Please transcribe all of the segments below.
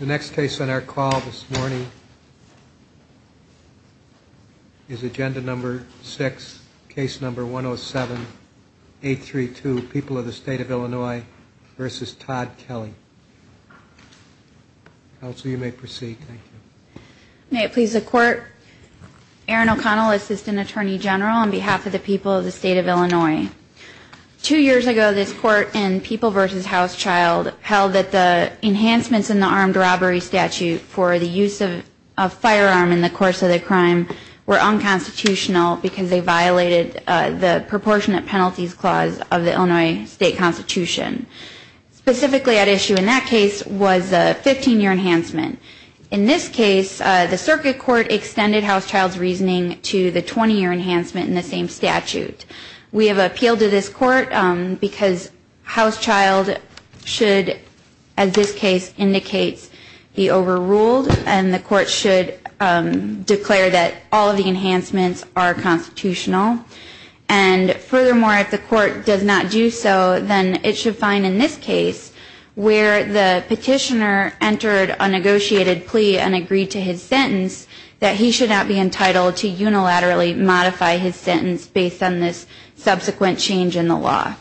The next case on our call this morning is agenda number 6, case number 107832, People of the State of Illinois v. Todd Kelly. Counsel, you may proceed. Erin O'Connell May it please the Court, Erin O'Connell, Assistant Attorney General on behalf of the people of the State of Illinois. Two years ago this Court in People v. Housechild held that the enhancements in the armed robbery statute for the use of a firearm in the course of the crime were unconstitutional because they violated the proportionate penalties clause of the Illinois State Constitution. Specifically at issue in that case was a 15-year enhancement. In this case, the Circuit Court extended Housechild's reasoning to the 20-year enhancement in the same statute. We have appealed to this Court because Housechild should, as this case indicates, be overruled and the Court should declare that all of the enhancements are constitutional. And furthermore, if the Court does not do so, then it should find in this case, where the petitioner entered a negotiated plea and agreed to his sentence, that he should not be entitled to unilaterally modify his sentence based on this subsequent change in the law.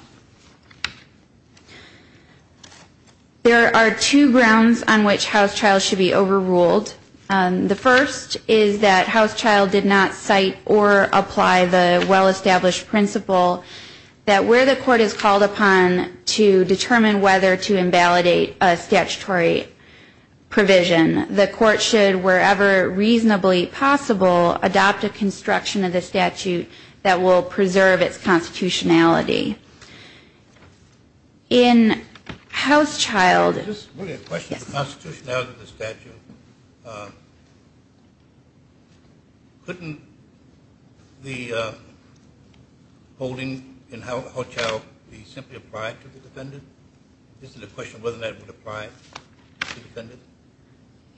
There are two grounds on which Housechild should be overruled. The first is that Housechild did not cite or apply the well-established principle that where the Court is called upon to determine whether to invalidate a statutory provision, the Court should, wherever reasonably possible, adopt a construction of the statute that will preserve its constitutionality. In Housechild... Just a question on the constitutionality of the statute. Couldn't the holding in Housechild be simply applied to the defendant? Is it a question of whether that would apply to the defendant?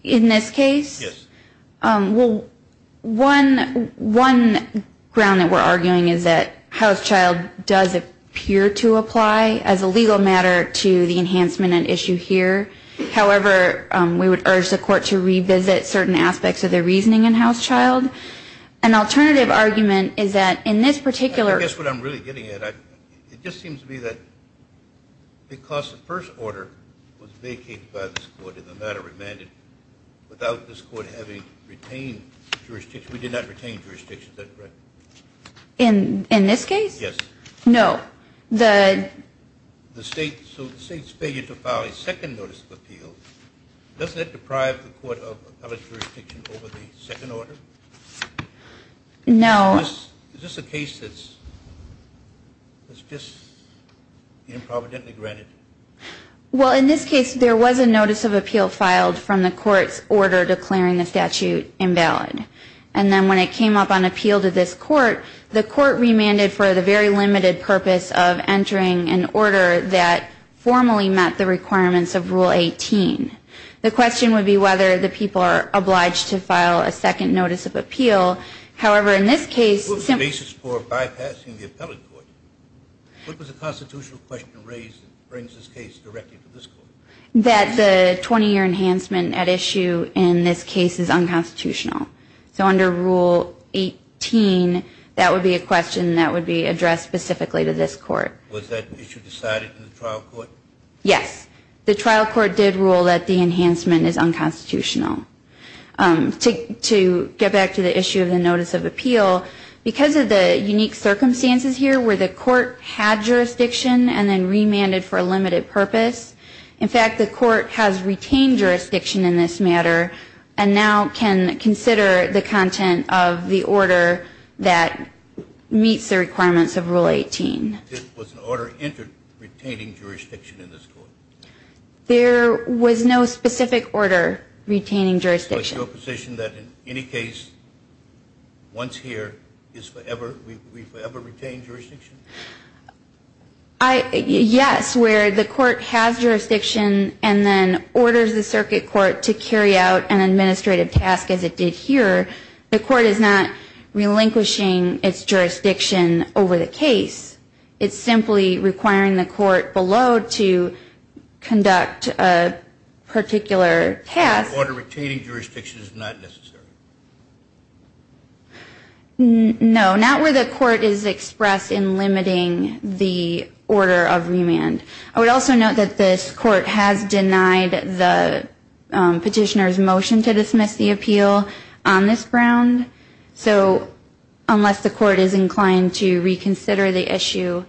In this case? Yes. Well, one ground that we're arguing is that Housechild does appear to apply as a legal matter to the enhancement at issue here. However, we would urge the Court to revisit certain aspects of the reasoning in Housechild. An alternative argument is that in this particular... Because the first order was vacated by this Court in the matter remanded without this Court having retained jurisdiction. We did not retain jurisdiction, is that correct? In this case? Yes. No. The... The State's failure to file a second notice of appeal, doesn't that deprive the Court of appellate jurisdiction over the second order? No. Is this a case that's just improvidently granted? Well, in this case, there was a notice of appeal filed from the Court's order declaring the statute invalid. And then when it came up on appeal to this Court, the Court remanded for the very limited purpose of entering an order that formally met the requirements of Rule 18. The question would be whether the people are obliged to file a second notice of appeal. However, in this case... What was the basis for bypassing the appellate Court? What was the constitutional question raised that brings this case directly to this Court? That the 20-year enhancement at issue in this case is unconstitutional. So under Rule 18, that would be a question that would be addressed specifically to this Court. Was that issue decided in the trial court? Yes. The trial court did rule that the enhancement is unconstitutional. To get back to the issue of the notice of appeal, because of the unique circumstances here where the Court had jurisdiction and then remanded for a limited purpose, in fact, the Court has retained jurisdiction in this matter and now can consider the content of the order that meets the requirements of Rule 18. Was an order entered retaining jurisdiction in this Court? There was no specific order retaining jurisdiction. So it's your position that in any case, once here, we forever retain jurisdiction? Yes. Where the Court has jurisdiction and then orders the Circuit Court to carry out an administrative task as it did here, the Court is not relinquishing its jurisdiction over the case. It's simply requiring the Court below to conduct a particular task. An order retaining jurisdiction is not necessary? No. Not where the Court is expressed in limiting the order of remand. I would also note that this Court has denied the petitioner's motion to dismiss the appeal on this ground. So unless the Court is inclined to reconsider the issue,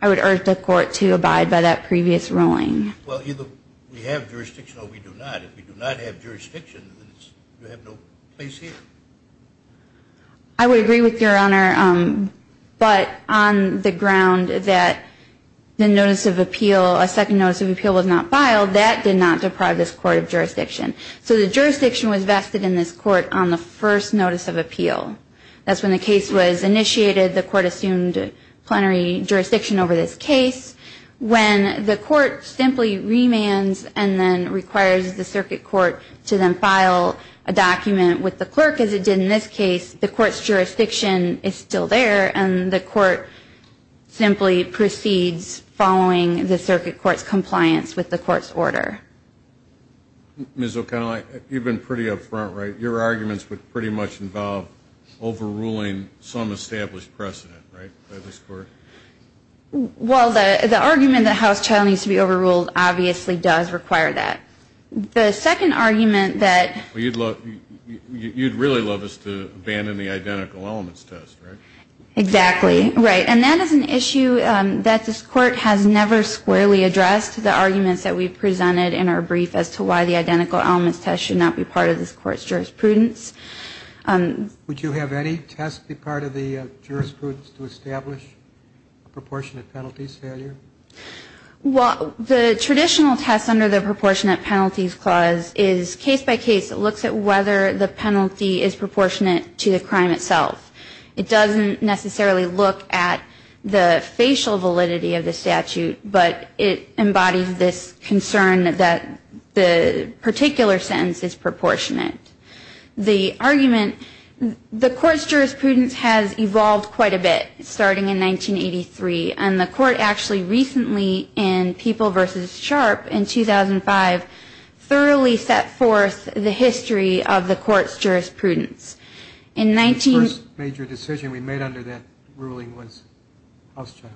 I would urge the Court to abide by that previous ruling. Well, either we have jurisdiction or we do not. If we do not have jurisdiction, then you have no place here. I would agree with Your Honor, but on the ground that a second notice of appeal was not filed, that did not deprive this Court of jurisdiction. So the jurisdiction was vested in this Court on the first notice of appeal. That's when the case was initiated, the Court assumed plenary jurisdiction over this case. When the Court simply remands and then requires the Circuit Court to then file a document with the clerk as it did in this case, the Court's jurisdiction is still there and the Court simply proceeds following the Circuit Court's compliance with the Court's order. Ms. O'Connell, you've been pretty up front, right? Your arguments would pretty much involve overruling some established precedent, right, by this Court? Well, the argument that House Child needs to be overruled obviously does require that. The second argument that... You'd really love us to abandon the identical elements test, right? Exactly, right. And that is an issue that this Court has never squarely addressed, the arguments that we've presented in our brief as to why the identical elements test should not be part of this Court's jurisprudence. Would you have any test be part of the jurisprudence to establish a proportionate penalties failure? Well, the traditional test under the proportionate penalties clause is case-by-case. It looks at whether the penalty is proportionate to the crime itself. It doesn't necessarily look at the facial validity of the statute, but it embodies this concern that the particular sentence is proportionate. The argument... The Court's jurisprudence has evolved quite a bit starting in 1983, and the Court actually recently in People v. Sharpe in 2005 thoroughly set forth the history of the Court's jurisprudence. The first major decision we made under that ruling was House Child.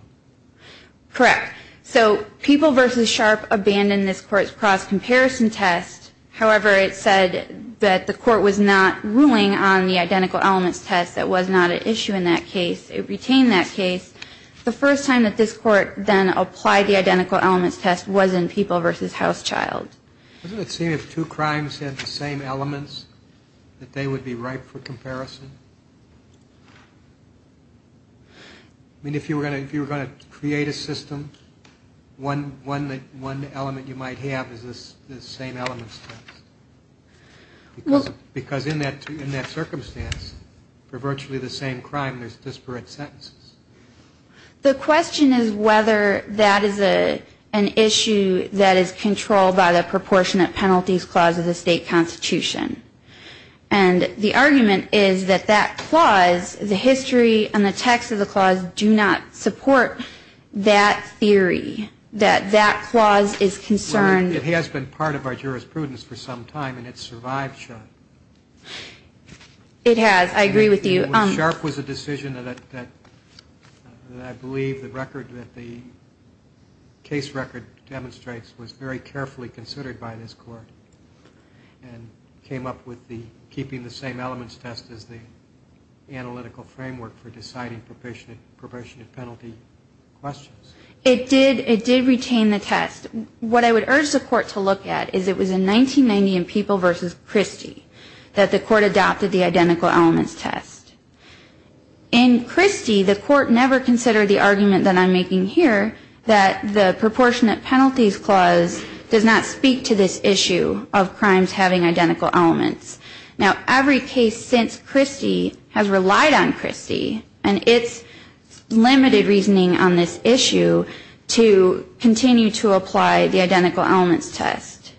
Correct. So People v. Sharpe abandoned this Court's cross-comparison test. However, it said that the Court was not ruling on the identical elements test. That was not an issue in that case. It retained that case. The first time that this Court then applied the identical elements test was in People v. House Child. Doesn't it seem if two crimes had the same elements that they would be ripe for comparison? I mean, if you were going to create a system, one element you might have is this same elements test. Because in that circumstance, for virtually the same crime, there's disparate sentences. The question is whether that is an issue that is controlled by the proportionate penalties clause of the state constitution. And the argument is that that clause, the history and the text of the clause, do not support that theory, that that clause is concerned. Well, it has been part of our jurisprudence for some time, and it's survived Sharpe. It has. I agree with you. When Sharpe was a decision that I believe the record that the case record demonstrates was very carefully considered by this Court and came up with the keeping the same elements test as the analytical framework for deciding proportionate penalty questions. It did retain the test. What I would urge the Court to look at is it was in 1990 in People v. Christie that the Court adopted the identical elements test. In Christie, the Court never considered the argument that I'm making here that the proportionate penalties clause does not speak to this issue of crimes having identical elements. Now, every case since Christie has relied on Christie and its limited reasoning on this issue to continue to apply the identical elements test.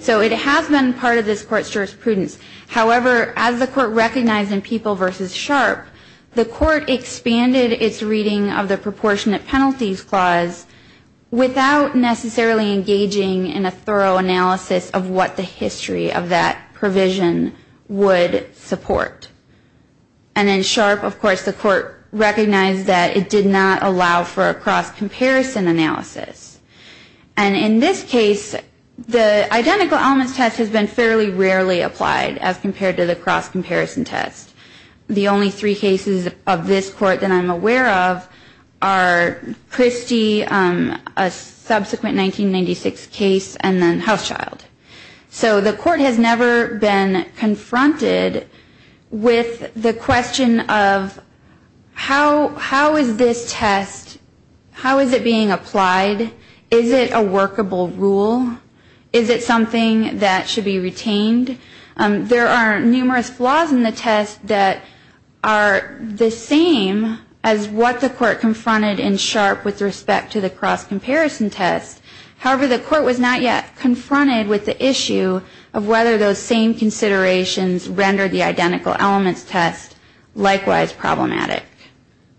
So it has been part of this Court's jurisprudence. However, as the Court recognized in People v. Sharpe, the Court expanded its reading of the proportionate penalties clause without necessarily engaging in a thorough analysis of what the history of that provision would support. And in Sharpe, of course, the Court recognized that it did not allow for a cross-comparison analysis. And in this case, the identical elements test has been fairly rarely applied as compared to the cross-comparison test. The only three cases of this Court that I'm aware of are Christie, a subsequent 1996 case, and then Housechild. So the Court has never been confronted with the question of how is this test, how is it being applied? Is it a workable rule? Is it something that should be retained? There are numerous flaws in the test that are the same as what the Court confronted in Sharpe with respect to the cross-comparison test. However, the Court was not yet confronted with the issue of whether those same considerations rendered the identical elements test likewise problematic.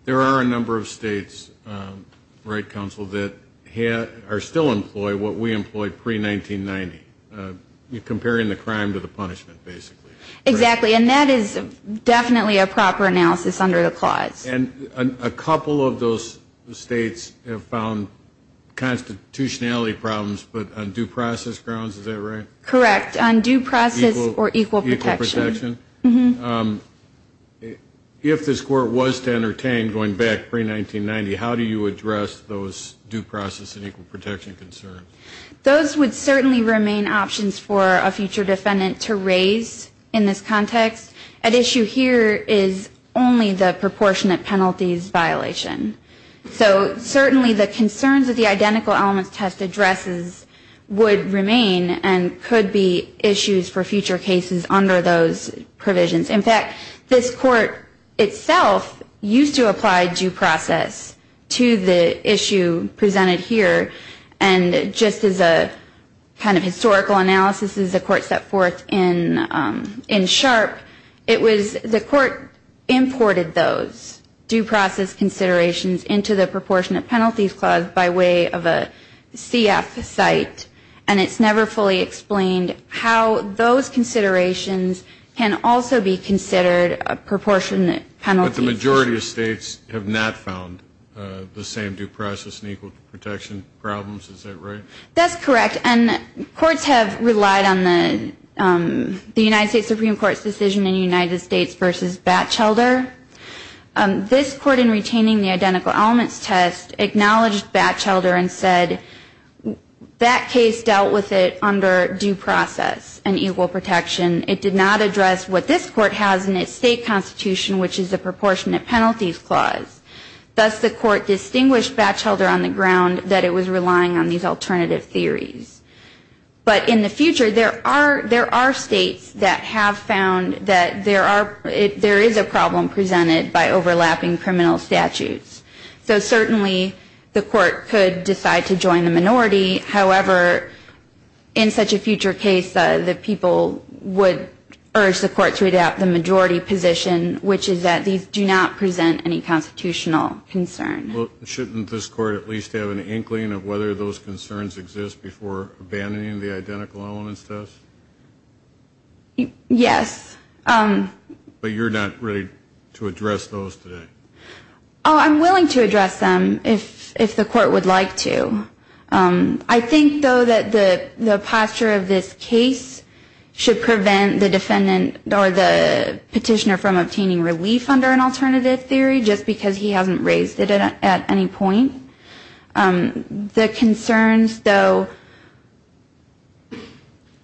There are a number of states, right, Counsel, that are still employing what we employed pre-1990. You're comparing the crime to the punishment, basically. Exactly, and that is definitely a proper analysis under the clause. And a couple of those states have found constitutionality problems, but on due process grounds, is that right? Correct, on due process or equal protection. If this Court was to entertain, going back pre-1990, how do you address those due process and equal protection concerns? Those would certainly remain options for a future defendant to raise in this context. At issue here is only the proportionate penalties violation. So certainly the concerns of the identical elements test addresses would remain and could be issues for future cases under those provisions. In fact, this Court itself used to apply due process to the issue presented here, and just as a kind of historical analysis as the Court set forth in SHARP, it was the Court imported those due process considerations into the proportionate penalties clause by way of a CF site, and it's never fully explained how those considerations can also be considered a proportionate penalty. But the majority of states have not found the same due process and equal protection problems. Is that right? That's correct, and courts have relied on the United States Supreme Court's decision in United States v. Batchelder. This Court, in retaining the identical elements test, acknowledged Batchelder and said that case dealt with it under due process and equal protection. It did not address what this Court has in its state constitution, which is the proportionate penalties clause. Thus, the Court distinguished Batchelder on the ground that it was relying on these alternative theories. But in the future, there are states that have found that there is a problem presented by overlapping criminal statutes. So certainly the Court could decide to join the minority. However, in such a future case, the people would urge the Court to adopt the majority position, which is that these do not present any constitutional concern. Well, shouldn't this Court at least have an inkling of whether those concerns exist before abandoning the identical elements test? Yes. But you're not ready to address those today. Oh, I'm willing to address them if the Court would like to. I think, though, that the posture of this case should prevent the defendant or the petitioner from obtaining relief under an alternative theory, just because he hasn't raised it at any point. The concerns, though,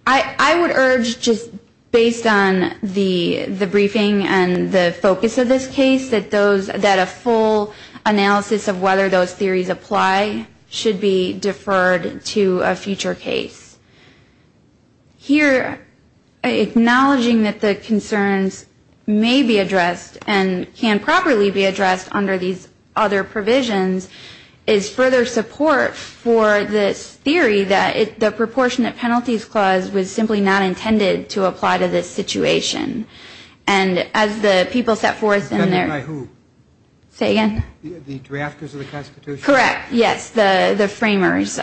I would urge, just based on the briefing and the focus of this case, that a full analysis of whether those theories apply should be deferred to a future case. Here, acknowledging that the concerns may be addressed and can properly be addressed under these other provisions, is further support for this theory that the proportionate penalties clause was simply not intended to apply to this situation. And as the people set forth in their... Defendant by who? Say again? The drafters of the Constitution. Correct, yes, the framers.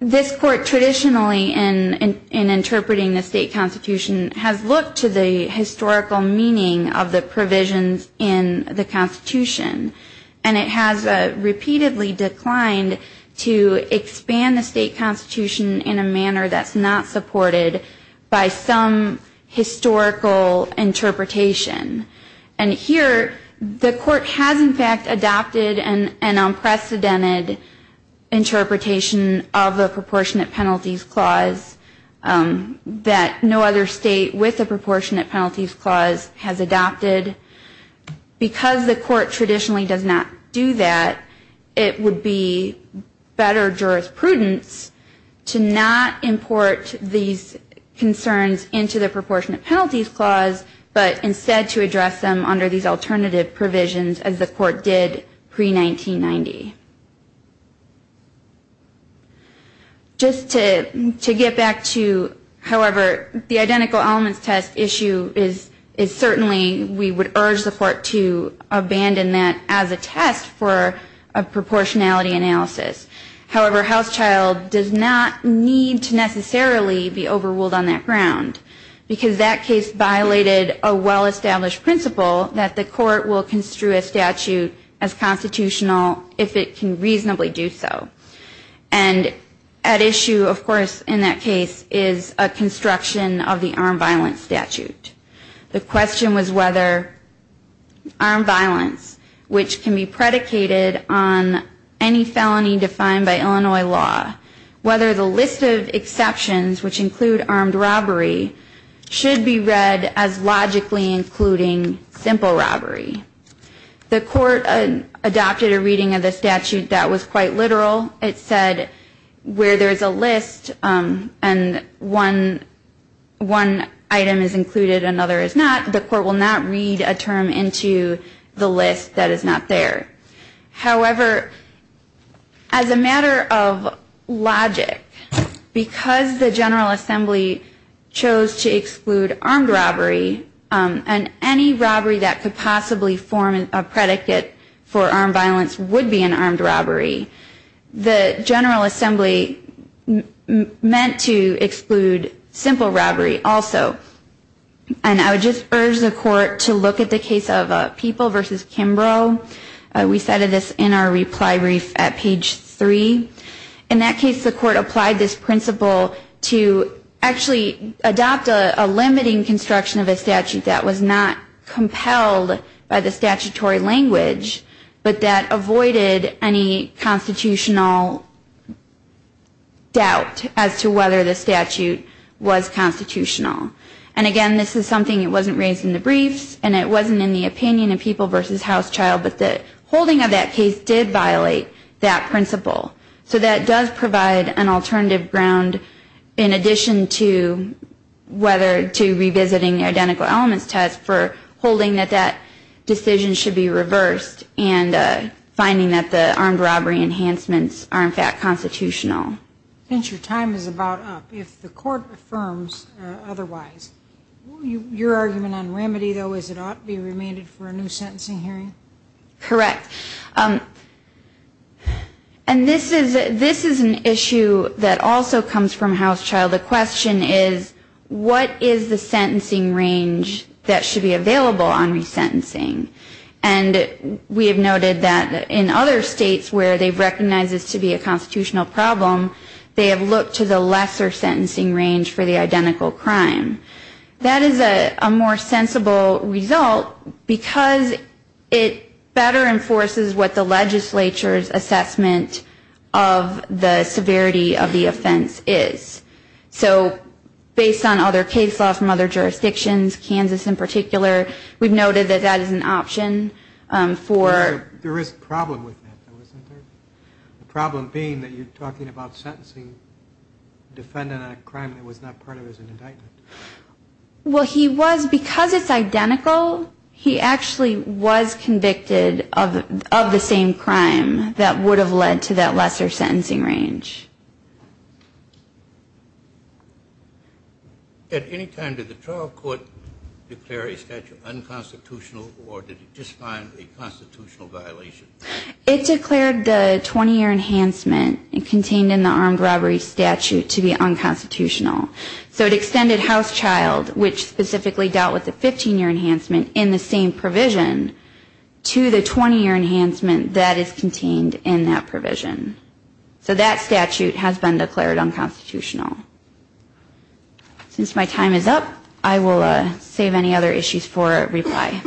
This Court traditionally, in interpreting the state Constitution, has looked to the historical meaning of the provisions in the Constitution. And it has repeatedly declined to expand the state Constitution in a manner that's not supported by some historical interpretation. And here, the Court has, in fact, adopted an unprecedented interpretation. Of the proportionate penalties clause that no other state with a proportionate penalties clause has adopted. Because the Court traditionally does not do that, it would be better jurisprudence to not import these concerns into the proportionate penalties clause, but instead to address them under these alternative provisions as the Court did pre-1990. Just to get back to, however, the identical elements test issue is certainly... We would urge the Court to abandon that as a test for a proportionality analysis. However, Housechild does not need to necessarily be overruled on that ground. Because that case violated a well-established principle that the Court will construe a statute as constitutional if it can reasonably do so. And at issue, of course, in that case, is a construction of the armed violence statute. The question was whether armed violence, which can be predicated on any felony defined by Illinois law, whether the list of exceptions, which include armed robbery, should be read as logically including simple robbery. The Court adopted a reading of the statute that was quite literal. It said where there is a list and one item is included, another is not, the Court will not read a term into the list that is not there. However, as a matter of logic, because the General Assembly chose to exclude armed robbery and any robbery that could possibly form a predicate for armed violence would be an armed robbery, the General Assembly meant to exclude simple robbery also. And I would just urge the Court to look at the case of People v. Kimbrough. We cited this in our reply brief at page 3. In that case, the Court applied this principle to actually adopt a limiting construction of a statute that was not compelled by the statutory language, but that avoided any constitutional doubt as to whether the statute was constitutional. And again, this is something that wasn't raised in the briefs and it wasn't in the opinion of People v. Housechild, but the holding of that case did violate that principle. So that does provide an alternative ground in addition to whether to revisiting the identical elements test for holding that that decision should be reversed and finding that the armed robbery enhancements are in fact constitutional. Since your time is about up, if the Court affirms otherwise, your argument on remedy, though, is it ought to be remanded for a new sentencing hearing? Correct. And this is an issue that also comes from Housechild. The question is, what is the sentencing range that should be available on resentencing? And we have noted that in other states where they've recognized this to be a constitutional problem, they have looked to the lesser sentencing range for the identical crime. That is a more sensible result because it better enforces what the legislature's assessment of the severity of the offense is. So based on other case law from other jurisdictions, Kansas in particular, we've noted that that is an option for There is a problem with that, though, isn't there? The problem being that you're talking about sentencing a defendant on a crime that was not part of his indictment. Well, he was, because it's identical, he actually was convicted of the same crime that would have led to that lesser sentencing range. At any time did the trial court declare a statute unconstitutional, or did it just find a constitutional violation? It declared the 20-year enhancement contained in the armed robbery statute to be unconstitutional. So it extended Housechild, which specifically dealt with the 15-year enhancement in the same provision, to the 20-year enhancement that is contained in that provision. So that statute has been declared unconstitutional. Since my time is up, I will save any other issues for reply.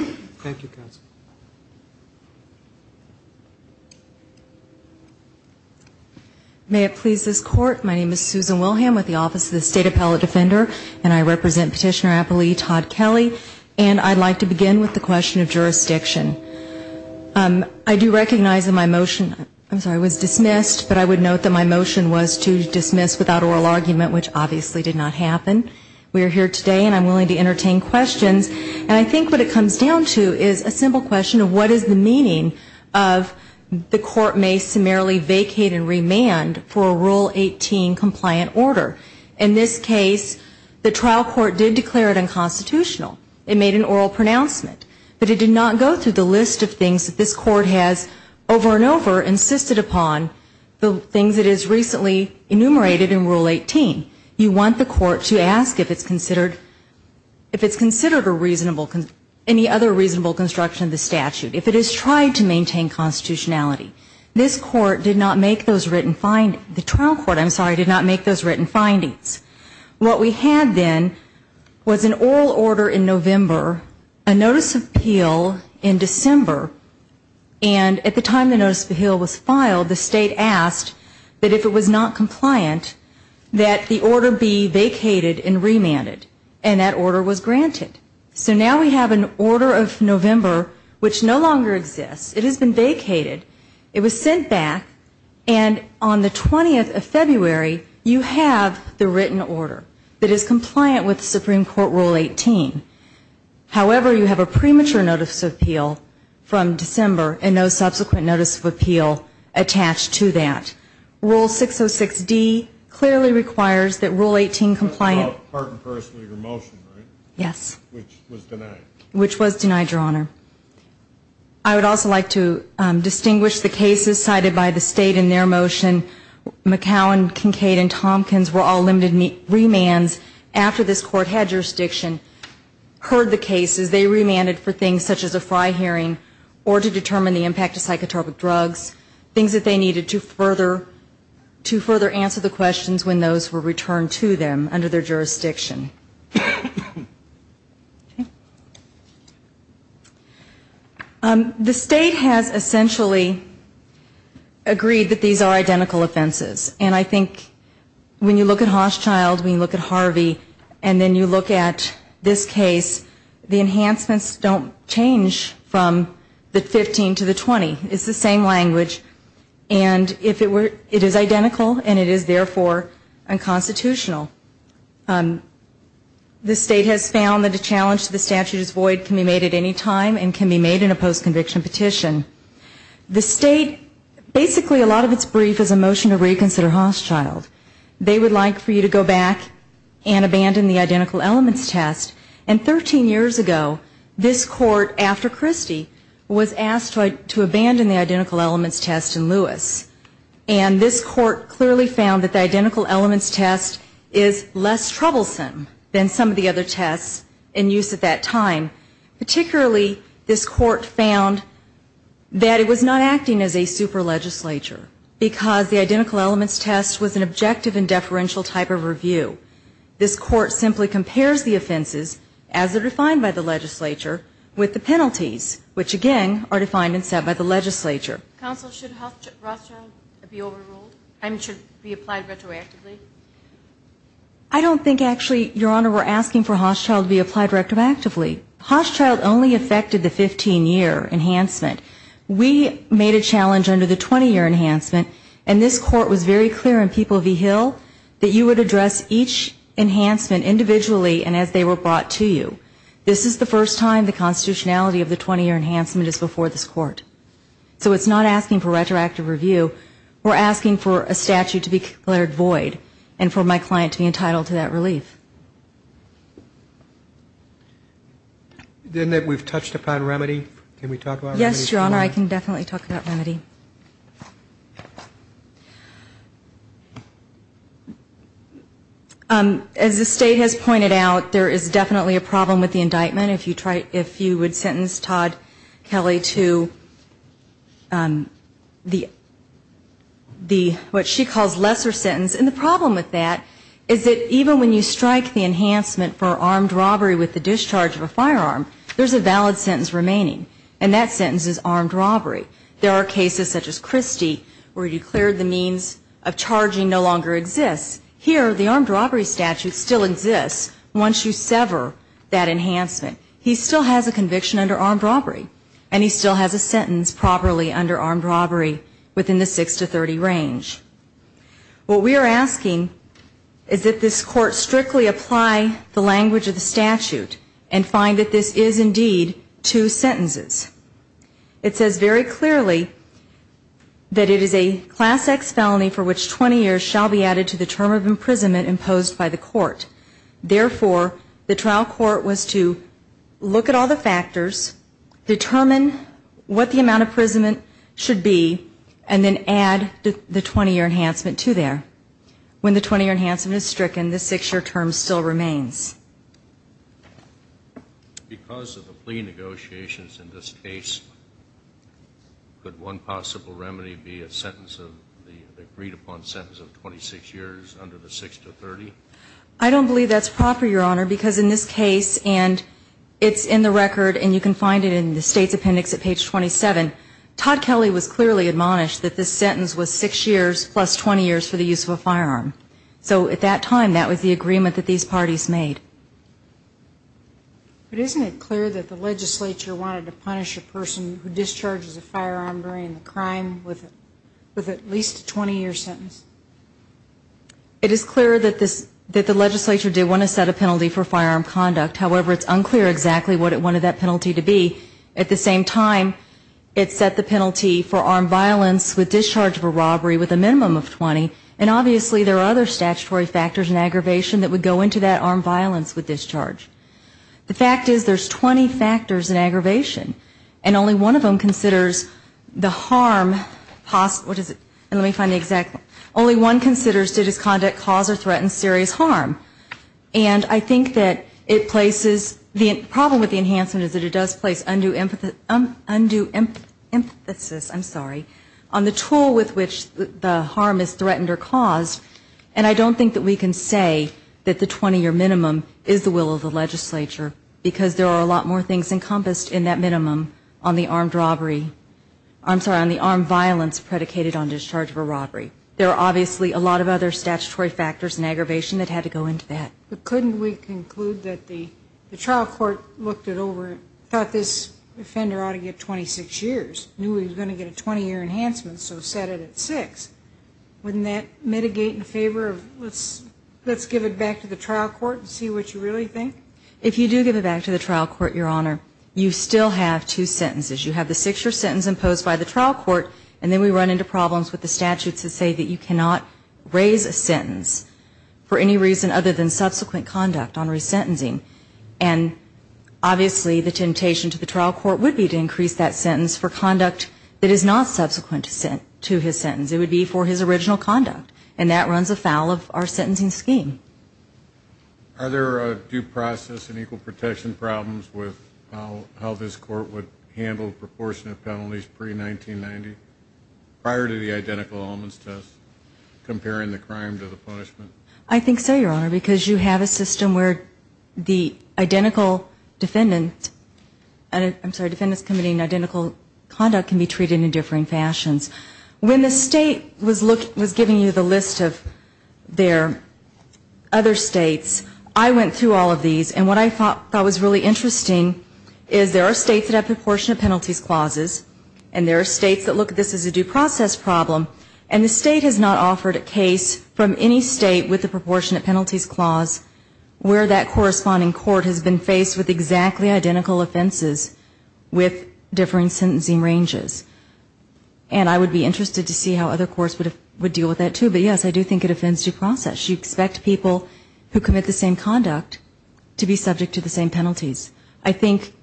May it please this Court, my name is Susan Wilhelm with the Office of the State Appellate Defender, and I represent Petitioner-Appellee Todd Kelly, and I'd like to begin with the question of jurisdiction. I do recognize that my motion was dismissed, but I would note that my motion was to dismiss without oral argument, which obviously did not happen. We are here today, and I'm willing to entertain questions. And I think what it comes down to is a simple question of what is the meaning of the court may summarily vacate and remand for a Rule 18 compliant order. In this case, the trial court did declare it unconstitutional. It made an oral pronouncement, but it did not go through the list of things that this Court has over and over insisted upon, the things it has recently enumerated in Rule 18. You want the Court to ask if it's considered a reasonable, any other reasonable construction of the statute, if it has tried to maintain constitutionality. This Court did not make those written findings, the trial court, I'm sorry, did not make those written findings. We had in November a notice of appeal in December, and at the time the notice of appeal was filed, the State asked that if it was not compliant, that the order be vacated and remanded. And that order was granted. So now we have an order of November which no longer exists. It has been vacated. It was sent back, and on the 20th of February, you have the written order that is compliant with the Supreme Court Rule 18. However, you have a premature notice of appeal from December and no subsequent notice of appeal attached to that. Rule 606D clearly requires that Rule 18 compliant. Yes. Which was denied. Which was denied, Your Honor. I would also like to distinguish the cases cited by the State in their motion. McHow and Kincaid and Tompkins were all limited remands after this Court had jurisdiction, heard the cases, they remanded for things such as a Fry hearing or to determine the impact of psychotropic drugs, things that they needed to further answer the questions when those were asked. The State has essentially agreed that these are identical offenses. And I think when you look at Hochschild, when you look at Harvey, and then you look at this case, the enhancements don't change from the 15 to the 20. It's the same language. And it is identical, and it is therefore unconstitutional. The State has found that a challenge to the statute is void, can be made at any time, and can be made in a postconviction petition. The State, basically a lot of its brief is a motion to reconsider Hochschild. They would like for you to go back and abandon the identical elements test. And 13 years ago, this Court, after Christie, was asked to abandon the identical elements test in Lewis. And this Court clearly found that the identical elements test is less troublesome than some of the other tests in use at that time. Particularly, this Court found that it was not acting as a super legislature, because the identical elements test was an objective and deferential type of review. This Court simply compares the offenses, as they're defined by the legislature, with the penalties, which, again, are defined and set by the legislature. I don't think, actually, Your Honor, we're asking for Hochschild to be applied retroactively. Hochschild only affected the 15-year enhancement. We made a challenge under the 20-year enhancement, and this Court was very clear in People v. Hill that you would address each enhancement individually and as they were brought to you. This is the first time the constitutionality of the 20-year enhancement is before this Court. So it's not asking for retroactive review. We're asking for a statute to be declared void and for my client to be entitled to that relief. Then we've touched upon remedy. Can we talk about remedy? Yes, Your Honor, I can definitely talk about remedy. As the State has pointed out, there is definitely a problem with the indictment. If you would sentence Todd Kelly to the what she calls lesser sentence, and the problem with that is that even when you strike the enhancement for armed robbery with the discharge of a firearm, there's a valid sentence remaining, and that sentence is armed robbery. There are cases such as Christie where you declared the means of charging no longer exists. Here, the armed robbery statute still exists once you sever that enhancement. He still has a conviction under armed robbery, and he still has a sentence properly under armed robbery within the 6-30 range. What we are asking is that this Court strictly apply the language of the statute and find that this is indeed two sentences. It says very clearly that it is a Class X felony for which 20 years shall be added to the term of imprisonment imposed by the Court. Therefore, the trial court was to look at all the factors, determine what the amount of imprisonment should be, and then add the 20-year enhancement to there. When the 20-year enhancement is stricken, the 6-year term still remains. Because of the plea negotiations in this case, could one possible remedy be a sentence of the agreed-upon sentence of 26 years under the 6-30? I don't believe that's proper, Your Honor, because in this case, and it's in the record, and you can find it in the State's appendix at page 27, Todd Kelly was clearly admonished that this sentence was 6 years plus 20 years for the use of a firearm. So at that time, that was the agreement that these parties made. But isn't it clear that the legislature wanted to punish a person who discharges a firearm during the crime with at least a 20-year sentence? It is clear that the legislature did want to set a penalty for firearm conduct. However, it's unclear exactly what it wanted that penalty to be. At the same time, it set the penalty for armed violence with discharge of a robbery with a minimum of 20. And obviously, there are other statutory factors in aggravation that would go into that armed violence with discharge. The fact is, there's 20 factors in aggravation, and only one of them considers the harm, what is it, let me find the exact, only one considers to conduct cause or threaten serious harm. And I think that it places, the problem with the enhancement is that it does place undue emphasis, I'm sorry, on the tool with which the harm is committed. And I don't think that we can say that the 20-year minimum is the will of the legislature, because there are a lot more things encompassed in that minimum on the armed robbery, I'm sorry, on the armed violence predicated on discharge of a robbery. There are obviously a lot of other statutory factors and aggravation that had to go into that. But couldn't we conclude that the trial court looked it over, thought this offender ought to get 26 years, knew he was going to get a 20-year enhancement, so set it at six? Wouldn't that mitigate in favor of let's give it back to the trial court and see what you really think? If you do give it back to the trial court, Your Honor, you still have two sentences. You have the six-year sentence imposed by the trial court, and then we run into problems with the statutes that say that you cannot raise a sentence for any reason other than subsequent conduct on resentencing. And obviously, the temptation to the trial court would be to increase that sentence for conduct that is not subsequent to his sentence. It would be for his original conduct, and that runs afoul of our sentencing scheme. Are there due process and equal protection problems with how this court would handle proportionate penalties pre-1990, prior to the identical elements test, comparing the crime to the punishment? I think so, Your Honor, because you have a system where the identical defendant, I'm sorry, defendant's committing identical conduct can be treated in differing fashions. When the state was looking, was giving you the list of their other states, I went through all of these, and what I thought was really interesting is there are states that have proportionate penalties clauses, and there are states that look at this as a due process problem, and the state has not offered a case from any state with a proportionate penalties clause where that corresponding court has been faced with exactly identical offenses with differing sentencing ranges. And I would be interested to see how other courts would deal with that, too. But yes, I do think it offends due process. You expect people who commit the same conduct to be subject to the same penalties. I think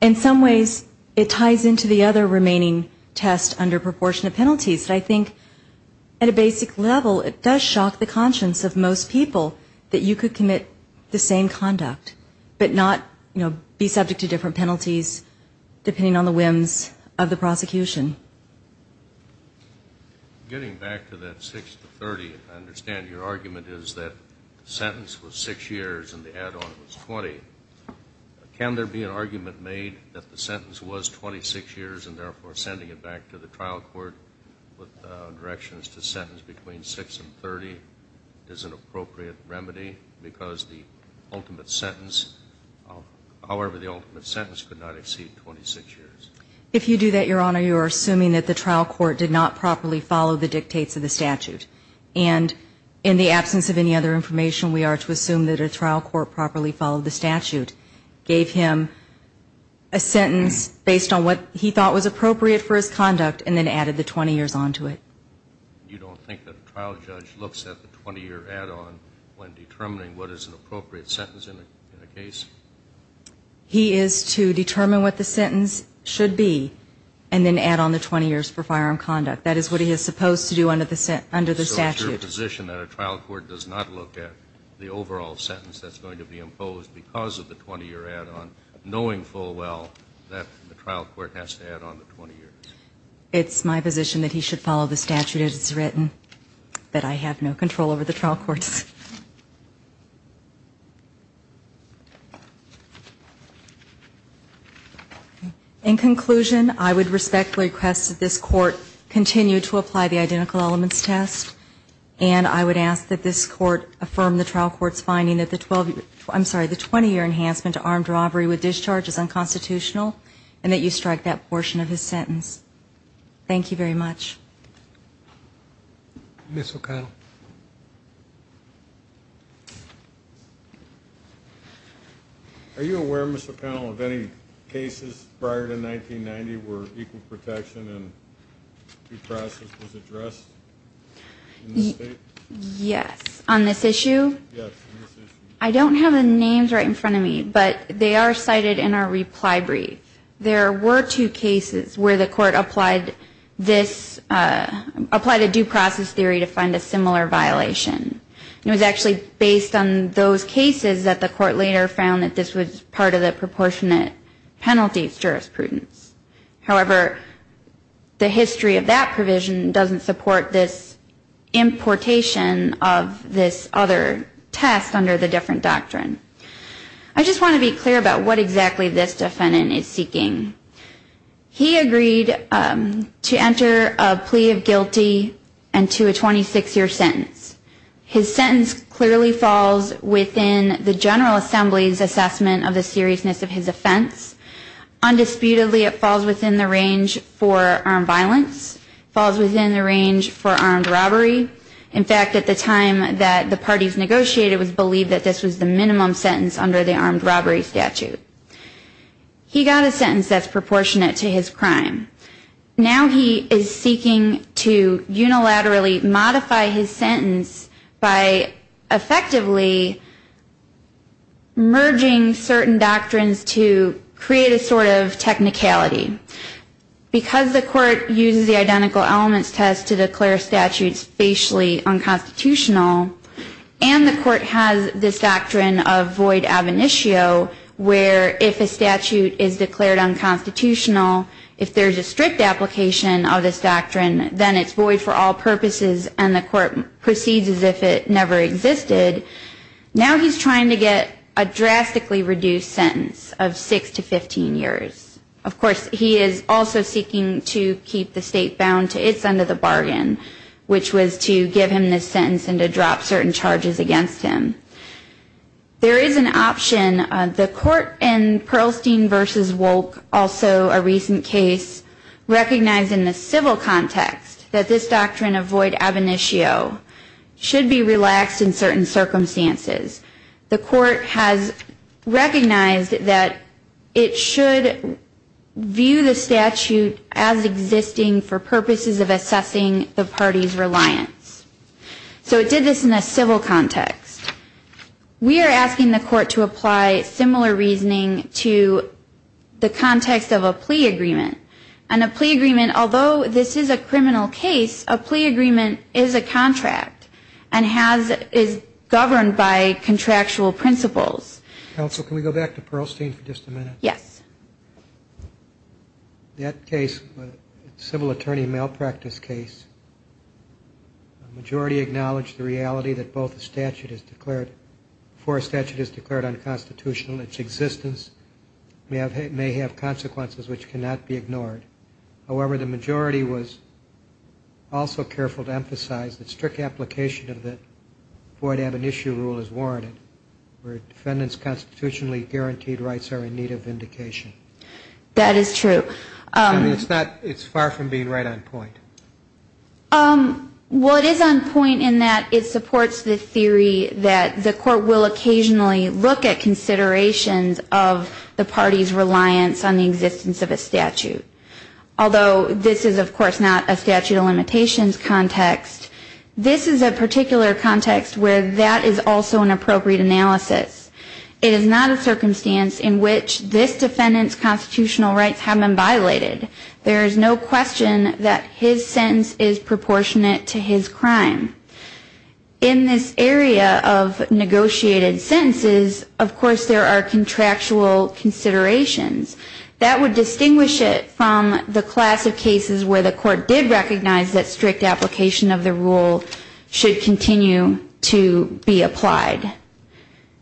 in some ways it ties into the other remaining test under proportionate penalties, but I think at a basic level, it does shock the conscience of most people that you could commit the same conduct, but not, you know, be subject to different penalties depending on the whims of the prosecution. Getting back to that 6 to 30, I understand your argument is that the sentence was 6 years and the add-on was 20. Can there be an argument made that the sentence was 26 years and therefore sending it back to the trial court with directions to sentence between 6 and 30 is an appropriate remedy because the ultimate sentence, however the ultimate sentence, could not exceed 26 years? If you do that, Your Honor, you are assuming that the trial court did not properly follow the dictates of the statute. And in the absence of any other information, we are to assume that a trial court properly followed the statute, gave him a sentence based on what he thought was appropriate for his conduct, and then added the 20 years on to it. You don't think that a trial judge looks at the 20-year add-on when determining what is an appropriate sentence in a case? He is to determine what the sentence should be and then add on the 20 years for firearm conduct. That is what he is supposed to do under the statute. So it's your position that a trial court does not look at the overall sentence that's going to be imposed because of the 20-year add-on, knowing full well that the trial court has to add on the 20 years? It's my position that he should follow the statute as it's written, but I have no control over the trial courts. In conclusion, I would respectfully request that this Court continue to apply the identical elements test, and I would ask that this Court affirm the trial court's finding that the 20-year enhancement to armed robbery with discharge is unconstitutional, and that you strike that portion of his sentence. Thank you very much. Ms. O'Connell. Are you aware, Ms. O'Connell, of any cases prior to 1990 where equal protection and due process was addressed in this state? Yes. On this issue? I don't have the names right in front of me, but they are cited in our reply brief. There were two cases where the Court applied a due process theory to find a similar violation. It was actually based on those two cases, and I believe this was part of the proportionate penalties jurisprudence. However, the history of that provision doesn't support this importation of this other test under the different doctrine. I just want to be clear about what exactly this defendant is seeking. He agreed to enter a plea of guilty and to a 26-year sentence. His sentence clearly falls within the General Assembly's judgment of the seriousness of his offense. Undisputedly, it falls within the range for armed violence, falls within the range for armed robbery. In fact, at the time that the parties negotiated, it was believed that this was the minimum sentence under the armed robbery statute. He got a sentence that's proportionate to his crime. Now he is seeking to unilaterally modify his sentence by effectively merging certain doctrines to create a sort of technicality. Because the Court uses the identical elements test to declare statutes facially unconstitutional, and the Court has this doctrine of void ab initio, where if a statute is declared unconstitutional, if there is a strict application of this doctrine, then it's void for all purposes and the Court proceeds as if it never existed. Now he's trying to get a drastically reduced sentence of 6 to 15 years. Of course, he is also seeking to keep the state bound to its end of the bargain, which was to give him this sentence and to drop certain charges against him. There is an option. The Court in Perlstein v. Wolk, also a recent case, recognized in the civil context that this is a doctrine of void ab initio, should be relaxed in certain circumstances. The Court has recognized that it should view the statute as existing for purposes of assessing the party's reliance. So it did this in a civil context. We are asking the Court to apply similar reasoning to the context of a plea agreement. And a plea agreement, although this is a criminal case, a plea agreement is a contract and is governed by contractual principles. Counsel, can we go back to Perlstein for just a minute? Yes. That case, civil attorney malpractice case, the majority acknowledged the reality that both the statute is declared, for a statute is declared unconstitutional, its existence may have consequences which cannot be ignored. However, the majority was also careful to emphasize that strict application of the void ab initio rule is warranted, where defendants' constitutionally guaranteed rights are in need of vindication. That is true. It's far from being right on point. Well, it is on point in that it supports the theory that the Court will occasionally look at considerations of the party's reliance on a statute of limitations. That is not a statute of limitations context. This is a particular context where that is also an appropriate analysis. It is not a circumstance in which this defendant's constitutional rights have been violated. There is no question that his sentence is proportionate to his crime. In this area of negotiated sentences, of course, there are contractual considerations. That would distinguish it from the class of statute, but the majority did recognize that strict application of the rule should continue to be applied.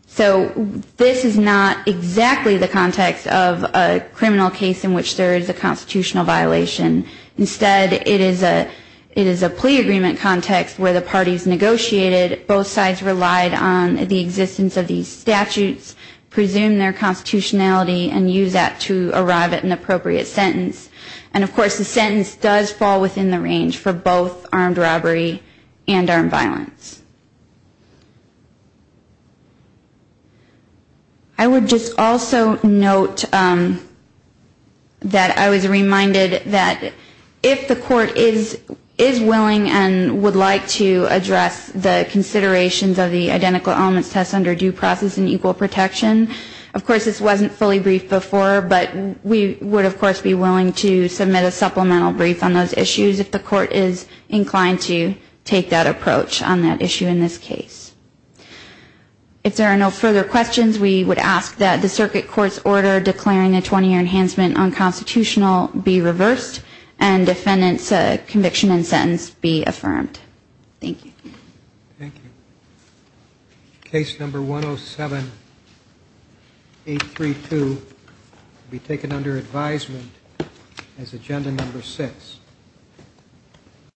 So this is not exactly the context of a criminal case in which there is a constitutional violation. Instead, it is a plea agreement context where the parties negotiated, both sides relied on the existence of these statutes, presumed their constitutionality, and used that to arrive at an appropriate sentence. And, of course, the sentence does fall within the range for both armed robbery and armed violence. I would just also note that I was reminded that if the Court is willing and would like to address the considerations of the identical elements test under due process and equal protection, of course, this wasn't fully briefed before, but we would, of course, be happy to submit a supplemental brief on those issues if the Court is inclined to take that approach on that issue in this case. If there are no further questions, we would ask that the circuit court's order declaring a 20-year enhancement on constitutional be reversed, and defendant's conviction and sentence be affirmed. Thank you. Thank you. Case number 107832 will be taken under advisement. As agenda number 6.